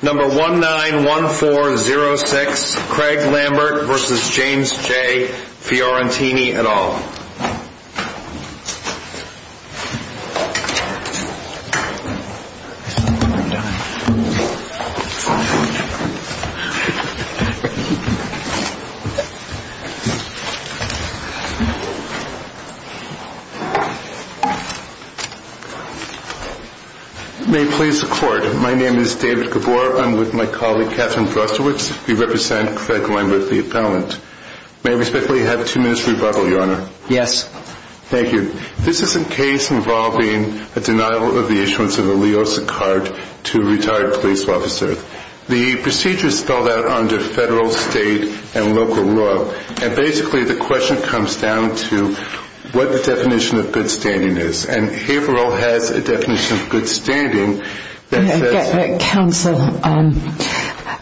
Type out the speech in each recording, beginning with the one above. No. 191406 Craig Lambert v. James J. Fiorentini et al. May it please the Court, my name is David Gabor. I'm with my colleague Katherine Brostowitz. We represent Craig Lambert v. Appellant. May I respectfully have two minutes rebuttal, Your Honor? Yes. Thank you. This is a case involving a denial of the issuance of a LEOSA card to a retired police officer. The procedure is spelled out under federal, state, and local law, and basically the question comes down to what the definition of good standing is, and Haverhill has a definition of good standing that says... Counsel,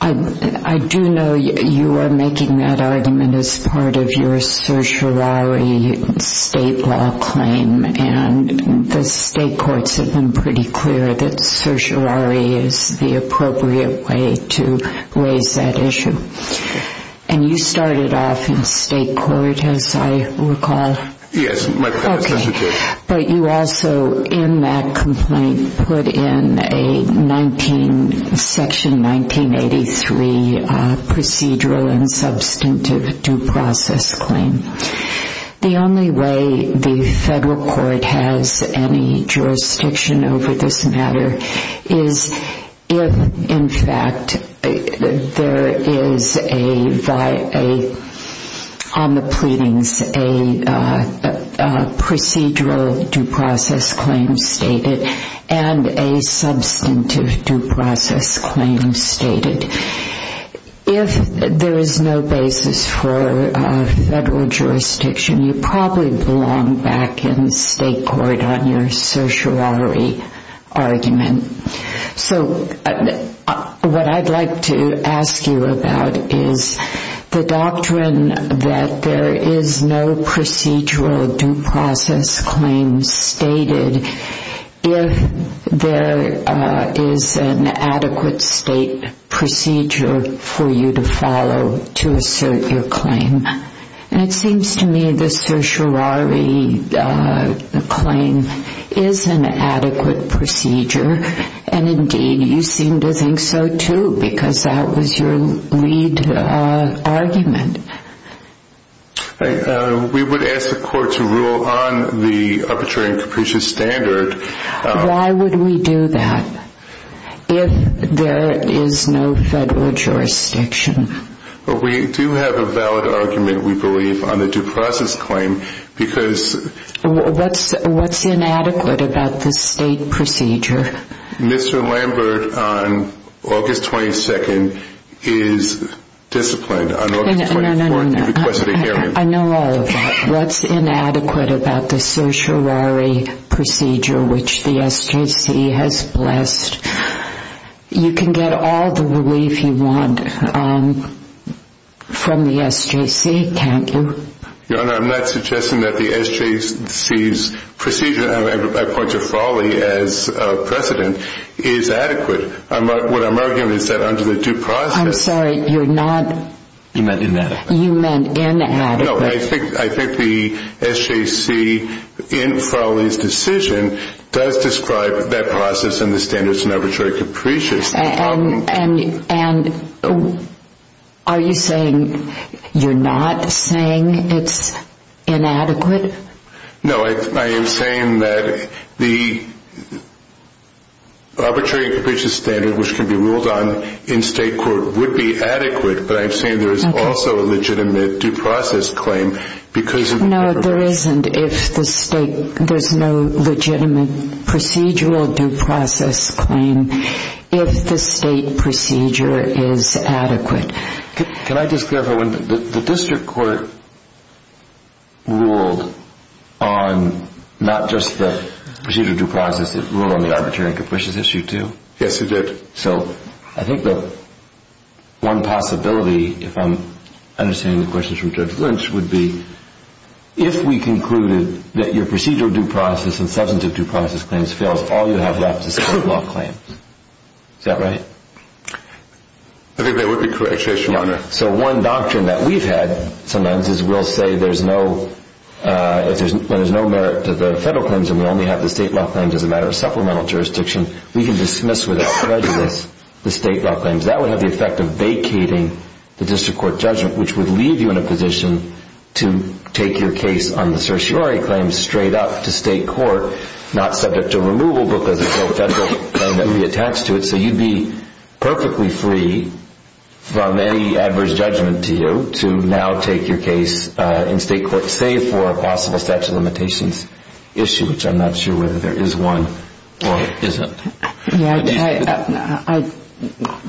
I do know you are making that argument as part of your certiorari state law claim, and the state courts have been pretty clear that certiorari is the appropriate way to raise that issue. And you started off in state procedural and substantive due process claim. The only way the federal court has any jurisdiction over this matter is if, in fact, there is a, on the pleadings, a procedural due process claim stated and a substantive due process claim stated. If there is no basis for federal jurisdiction, you probably belong back in state court on your certiorari argument. So what I'd like to ask you about is the doctrine that there is no procedural due process claim stated if there is an adequate state procedure for you to follow to assert your claim. And it seems to me the certiorari claim is an adequate procedure, and indeed you seem to think so, too, because that was your lead argument. We would ask the court to rule on the arbitrary and capricious standard. Why would we do that if there is no federal jurisdiction? We do have a valid argument, we believe, on the due process claim because... What's inadequate about the state procedure? Mr. Lambert on August 22nd is disciplined on August 24th. No, no, no, no. He requested a hearing. I know all of that. What's inadequate about the certiorari procedure which the SJC has blessed? You can get all the relief you want from the SJC, can't you? Your Honor, I'm not suggesting that the SJC's procedure, and I point to Frawley as precedent, is adequate. What I'm arguing is that under the due process... I'm sorry, you're not... You meant inadequate. You meant inadequate. No, I think the SJC in Frawley's decision does describe that process and the standards and arbitrary capricious. And are you saying you're not saying it's inadequate? No, I am saying that the arbitrary and capricious standard which can be ruled on in state court would be adequate, but I'm saying there is also a legitimate due process claim because... No, there isn't if the state... there's no legitimate procedural due process claim if the state procedure is adequate. Can I just clarify one thing? The district court ruled on not just the procedural due process, it ruled on the arbitrary and capricious issue too? Yes, it did. So I think that one possibility, if I'm understanding the questions from Judge Lynch, would be if we concluded that your procedural due process and substantive due process claims fails, all you have left is state law claims. Is that right? I think that would be correct, Your Honor. So one doctrine that we've had sometimes is we'll say there's no... if there's no merit to the federal claims and we only have the state law claims as a matter of supplemental jurisdiction, we can dismiss without prejudice the state law claims. That would have the effect of vacating the district court judgment, which would leave you in a position to take your case on the certiorari claims straight up to state court, not subject to removal because it's so federal that we attach to it. So you'd be perfectly free from any adverse judgment to you to now take your case in state court, save for a possible statute of limitations issue, which I'm not sure whether there is one or isn't. I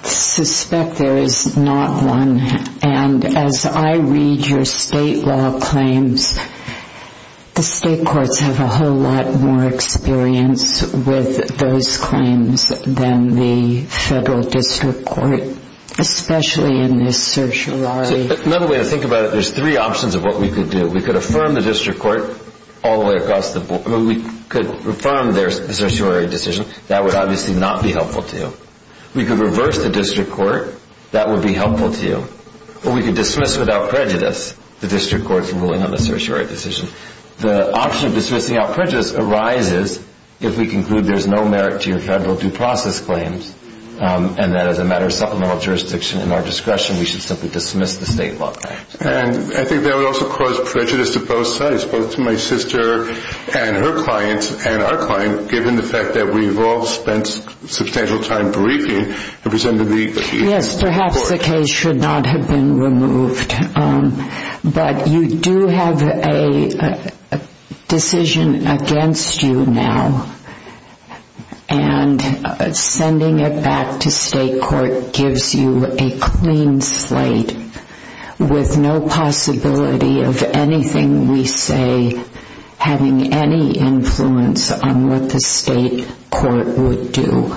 suspect there is not one. And as I read your state law claims, the state courts have a whole lot more experience with those claims than the federal district court, especially in this certiorari. Another way to think about it, there's three options of what we could do. We could affirm the district court all the way across the board. We could affirm their certiorari decision. That would obviously not be helpful to you. We could reverse the district court. That would be helpful to you. Or we could dismiss without prejudice the district court's ruling on the certiorari decision. The option of dismissing without prejudice arises if we conclude there's no merit to your federal due process claims and that as a matter of supplemental jurisdiction and our discretion, we should simply dismiss the state law claims. And I think that would also cause prejudice to both sides, both to my sister and her client and our client, given the fact that we've all spent substantial time briefing representing the chief court. Yes, perhaps the case should not have been removed. But you do have a decision against you now, and sending it back to state court gives you a clean slate with no possibility of anything we say having any influence on what the state court would do.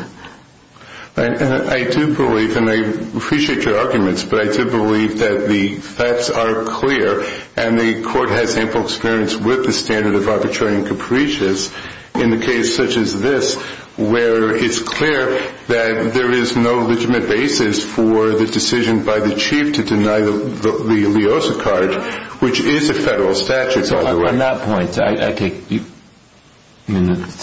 I do believe, and I appreciate your arguments, but I do believe that the facts are clear and the court has ample experience with the standard of arbitrary and capricious in a case such as this where it's clear that there is no legitimate basis for the decision by the chief to deny the leosa card, which is a federal statute, by the way. On that point, to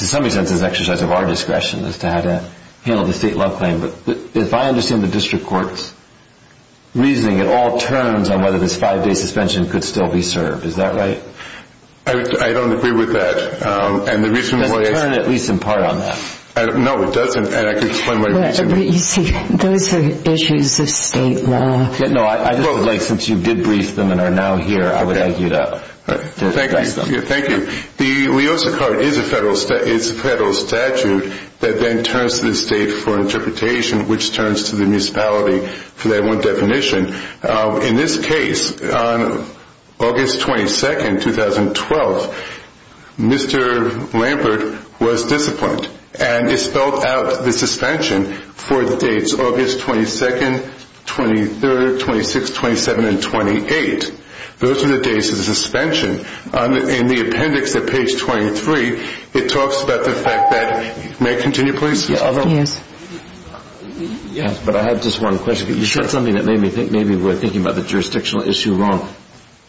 some extent it's an exercise of our discretion as to how to handle the state law claim, but if I understand the district court's reasoning, it all turns on whether this five-day suspension could still be served. Is that right? I don't agree with that. It doesn't turn at least in part on that. No, it doesn't, and I can explain what I mean. You see, those are issues of state law. Since you did brief them and are now here, I would like you to address them. Thank you. The leosa card is a federal statute that then turns to the state for interpretation, which turns to the municipality for that one definition. In this case, on August 22, 2012, Mr. Lambert was disciplined, and it spelled out the suspension for the dates August 22nd, 23rd, 26th, 27th, and 28th. Those are the dates of the suspension. In the appendix at page 23, it talks about the fact that you may continue, please. Yes, but I have just one question. You said something that made me think maybe we're thinking about the jurisdictional issue wrong.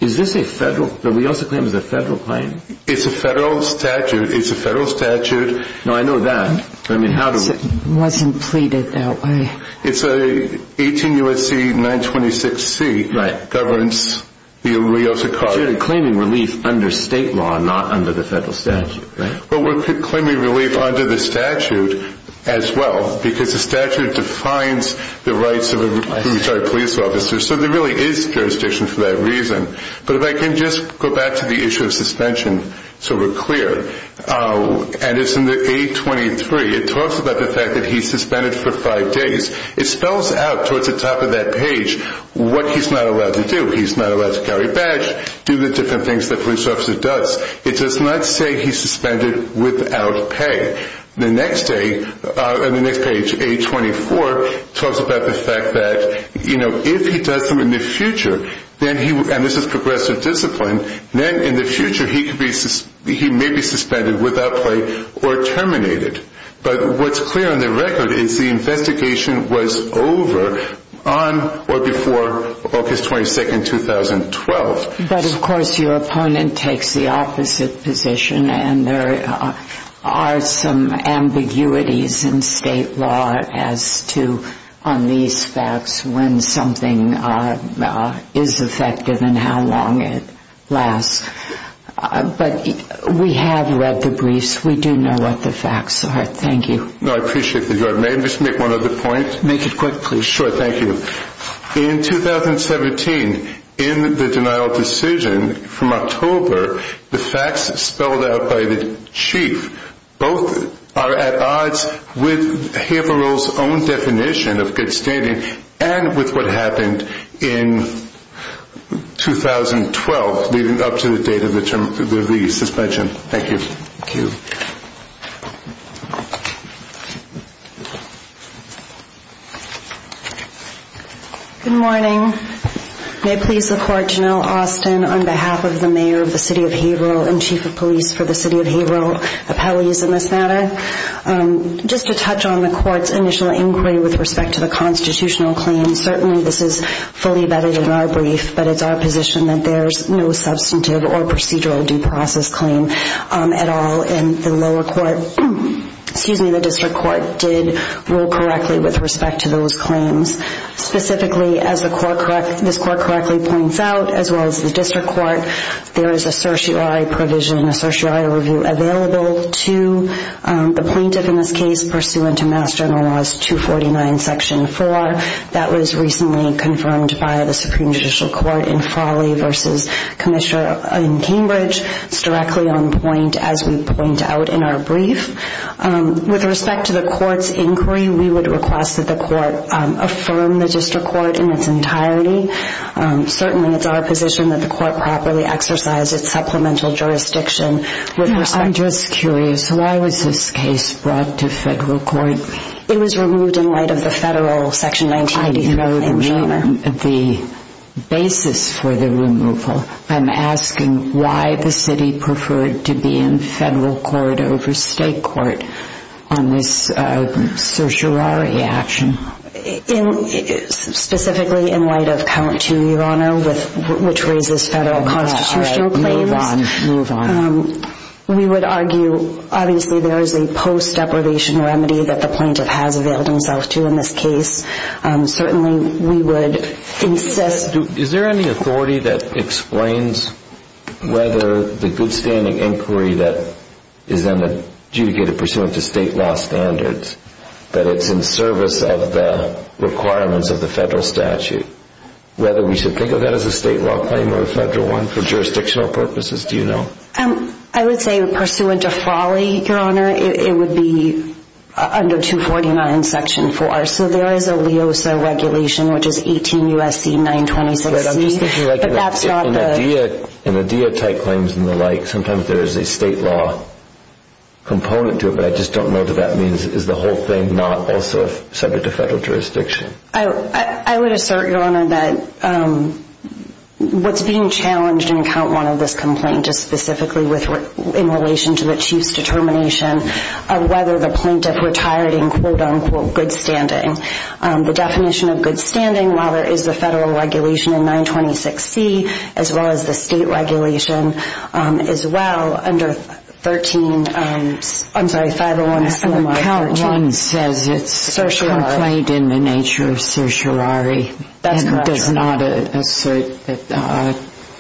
Is this a federal? The leosa claim is a federal claim. It's a federal statute. It's a federal statute. No, I know that. It wasn't pleaded that way. It's an 18 U.S.C. 926C that governs the leosa card. But you're claiming relief under state law, not under the federal statute, right? Well, we're claiming relief under the statute as well, because the statute defines the rights of a retired police officer, so there really is jurisdiction for that reason. But if I can just go back to the issue of suspension so we're clear, and it's in the A23, it talks about the fact that he's suspended for five days. It spells out towards the top of that page what he's not allowed to do. He's not allowed to carry a badge, do the different things that a police officer does. It does not say he's suspended without pay. The next page, A24, talks about the fact that, you know, if he does them in the future, and this is progressive discipline, then in the future he may be suspended without pay or terminated. But what's clear on the record is the investigation was over on or before August 22, 2012. But, of course, your opponent takes the opposite position, and there are some ambiguities in state law as to on these facts when something is effective and how long it lasts. But we have read the briefs. We do know what the facts are. Thank you. No, I appreciate that, Your Honor. May I just make one other point? Make it quick, please. Sure. Thank you. In 2017, in the denial of decision from October, the facts spelled out by the chief, both are at odds with Haverhill's own definition of good standing and with what happened in 2012 leading up to the date of the suspension. Thank you. Thank you. Good morning. May it please the court, Janelle Austin, on behalf of the mayor of the city of Haverhill and chief of police for the city of Haverhill, appellees in this matter. Just to touch on the court's initial inquiry with respect to the constitutional claims, certainly this is fully vetted in our brief, but it's our position that there's no substantive or procedural due process claim at all in the lower court. Excuse me, the district court did rule correctly with respect to those claims. Specifically, as this court correctly points out, as well as the district court, there is a certiorari provision, a certiorari review available to the plaintiff in this case pursuant to Mass General Laws 249, Section 4. That was recently confirmed by the Supreme Judicial Court in Frawley v. Commissioner in Cambridge. It's directly on point, as we point out in our brief. With respect to the court's inquiry, we would request that the court affirm the district court in its entirety. Certainly, it's our position that the court properly exercise its supplemental jurisdiction. I'm just curious, why was this case brought to federal court? It was removed in light of the federal Section 1980. I know the basis for the removal. I'm asking why the city preferred to be in federal court over state court on this certiorari action. Specifically, in light of Count 2, Your Honor, which raises federal constitutional claims, we would argue, obviously, there is a post deprivation remedy that the plaintiff has availed himself to in this case. Certainly, we would insist. Is there any authority that explains whether the good standing inquiry that is then adjudicated pursuant to state law standards, that it's in service of the requirements of the federal statute, whether we should think of that as a state law claim or a federal one for jurisdictional purposes? Do you know? I would say pursuant to Frawley, Your Honor, it would be under 249, Section 4. There is a LEOSA regulation, which is 18 U.S.C. 926. In the deityte claims and the like, sometimes there is a state law component to it, but I just don't know what that means. Is the whole thing not also subject to federal jurisdiction? I would assert, Your Honor, that what's being challenged in Count 1 of this complaint is specifically in relation to the Chief's determination of whether the plaintiff retired in quote-unquote good standing. The definition of good standing, while there is the federal regulation in 926C, as well as the state regulation as well, under 13, I'm sorry, 501. Count 1 says it's a complaint in the nature of certiorari. That's correct, Your Honor. It does not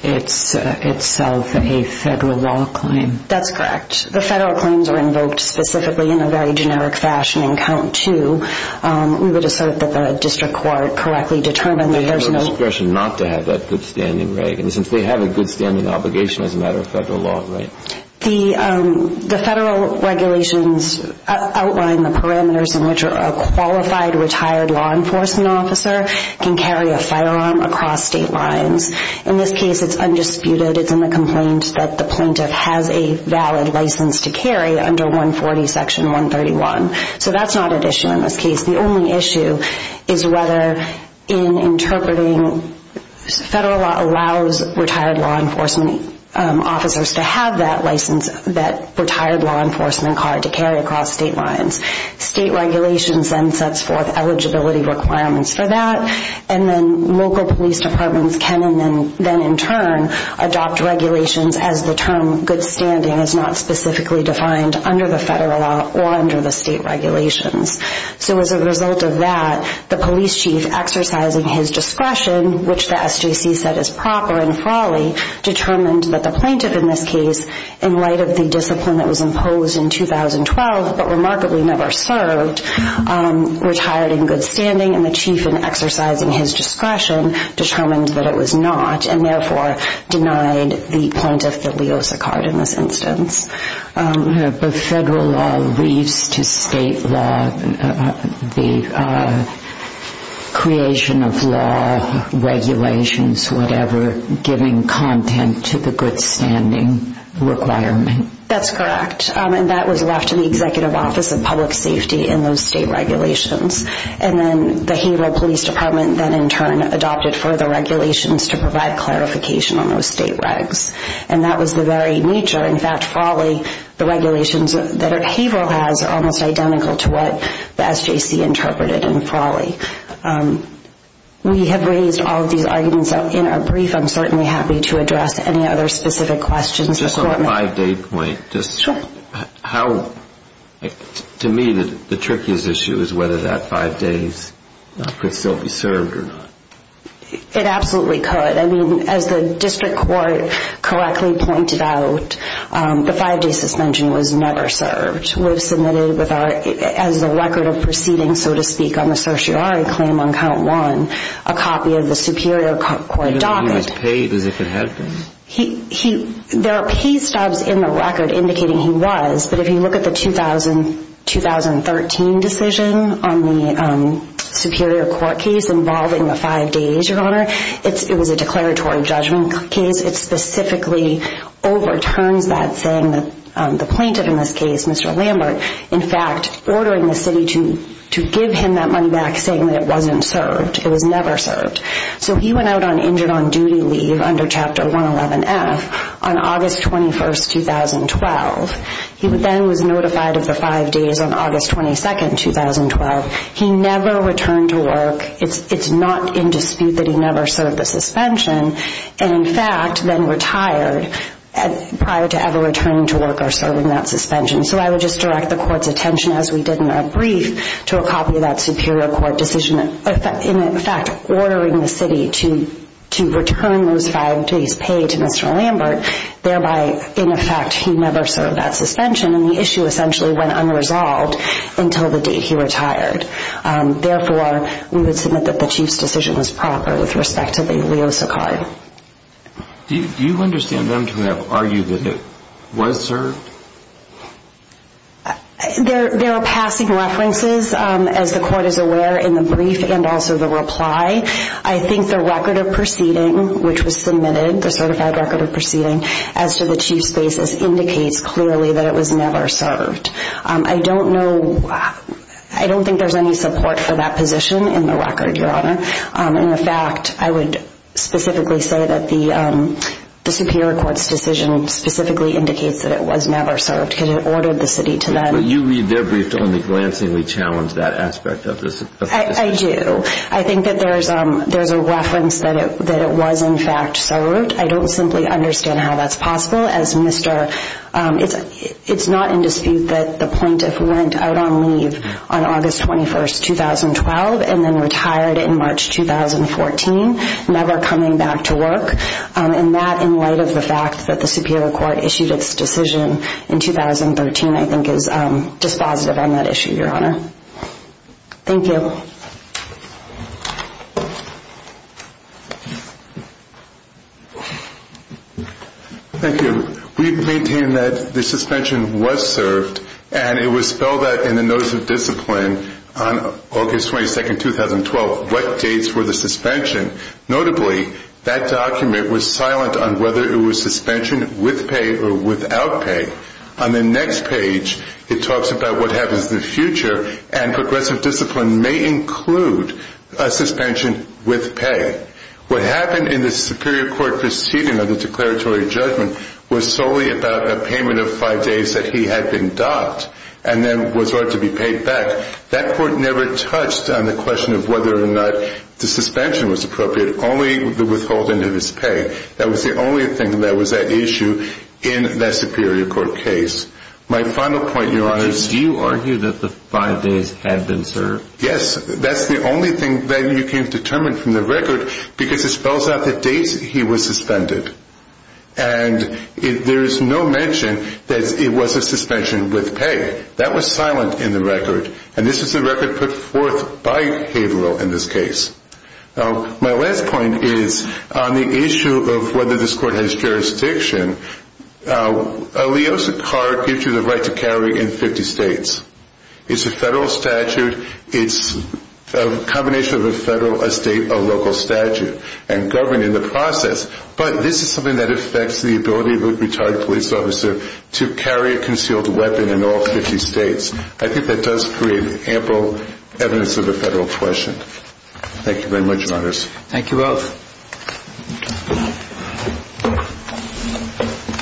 assert itself a federal law claim. That's correct. The federal claims are invoked specifically in a very generic fashion in Count 2. We would assert that the district court correctly determined that there's no They have no discretion not to have that good standing, right? And since they have a good standing obligation as a matter of federal law, right? The federal regulations outline the parameters in which a qualified retired law enforcement officer can carry a firearm across state lines. In this case, it's undisputed. It's in the complaint that the plaintiff has a valid license to carry under 140 Section 131. So that's not an issue in this case. The only issue is whether in interpreting federal law allows retired law enforcement officers to have that license, that retired law enforcement card to carry across state lines. State regulations then sets forth eligibility requirements for that. And then local police departments can and then in turn adopt regulations as the term good standing is not specifically defined under the federal law or under the state regulations. So as a result of that, the police chief exercising his discretion, which the SJC said is proper and frolly, determined that the plaintiff in this case, in light of the discipline that was imposed in 2012 but remarkably never served, retired in good standing. And the chief in exercising his discretion determined that it was not and therefore denied the plaintiff the LEOSA card in this instance. But federal law leads to state law, the creation of law, regulations, whatever, giving content to the good standing requirement. That's correct. And that was left to the Executive Office of Public Safety in those state regulations. And then the Haverhill Police Department then in turn adopted further regulations to provide clarification on those state regs. And that was the very nature. In fact, frolly, the regulations that Haverhill has are almost identical to what the SJC interpreted in frolly. We have raised all of these arguments in our brief. I'm certainly happy to address any other specific questions. Just on the five-day point, just how, to me, the trickiest issue is whether that five days could still be served or not. It absolutely could. I mean, as the district court correctly pointed out, the five-day suspension was never served. We've submitted as a record of proceeding, so to speak, on the certiorari claim on count one, a copy of the Superior Court docket. He was paid as if it had been. There are pay stubs in the record indicating he was, but if you look at the 2013 decision on the Superior Court case involving the five days, Your Honor, it was a declaratory judgment case. It specifically overturns that saying that the plaintiff in this case, Mr. Lambert, in fact ordering the city to give him that money back saying that it wasn't served, it was never served. So he went out on injured on duty leave under Chapter 111F on August 21, 2012. He then was notified of the five days on August 22, 2012. He never returned to work. It's not in dispute that he never served the suspension and, in fact, then retired prior to ever returning to work or serving that suspension. So I would just direct the Court's attention, as we did in our brief, to a copy of that Superior Court decision in, in fact, ordering the city to return those five days paid to Mr. Lambert, thereby, in effect, he never served that suspension, and the issue essentially went unresolved until the date he retired. Therefore, we would submit that the Chief's decision was proper with respect to the leo saccade. Do you understand them to have argued that it was served? There are passing references, as the Court is aware, in the brief and also the reply. I think the record of proceeding, which was submitted, the certified record of proceeding, as to the Chief's basis indicates clearly that it was never served. I don't know, I don't think there's any support for that position in the record, Your Honor. In fact, I would specifically say that the Superior Court's decision specifically indicates that it was never served, because it ordered the city to then But you read their brief to only glancingly challenge that aspect of the suspension. I do. I think that there's a reference that it was, in fact, served. I don't simply understand how that's possible, as Mr. It's not in dispute that the plaintiff went out on leave on August 21, 2012, and then retired in March 2014, never coming back to work. And that, in light of the fact that the Superior Court issued its decision in 2013, I think is dispositive on that issue, Your Honor. Thank you. Thank you. We maintain that the suspension was served, and it was spelled out in the Notice of Discipline on August 22, 2012, what dates were the suspension. Notably, that document was silent on whether it was suspension with pay or without pay. On the next page, it talks about what happens in the future, and progressive discipline may include a suspension with pay. What happened in the Superior Court proceeding of the declaratory judgment was solely about a payment of five days that he had been docked, and then was ordered to be paid back. That court never touched on the question of whether or not the suspension was appropriate, only the withholding of his pay. That was the only thing that was at issue in that Superior Court case. My final point, Your Honor, is... Did you argue that the five days had been served? Yes. That's the only thing that you can determine from the record, because it spells out the dates he was suspended. And there is no mention that it was a suspension with pay. That was silent in the record. And this is the record put forth by Haverhill in this case. My last point is on the issue of whether this court has jurisdiction. A Leosa card gives you the right to carry in 50 states. It's a federal statute. It's a combination of a federal, a state, a local statute, and government in the process. But this is something that affects the ability of a retired police officer to carry a concealed weapon in all 50 states. I think that does create ample evidence of a federal question. Thank you very much, Your Honors. Thank you both.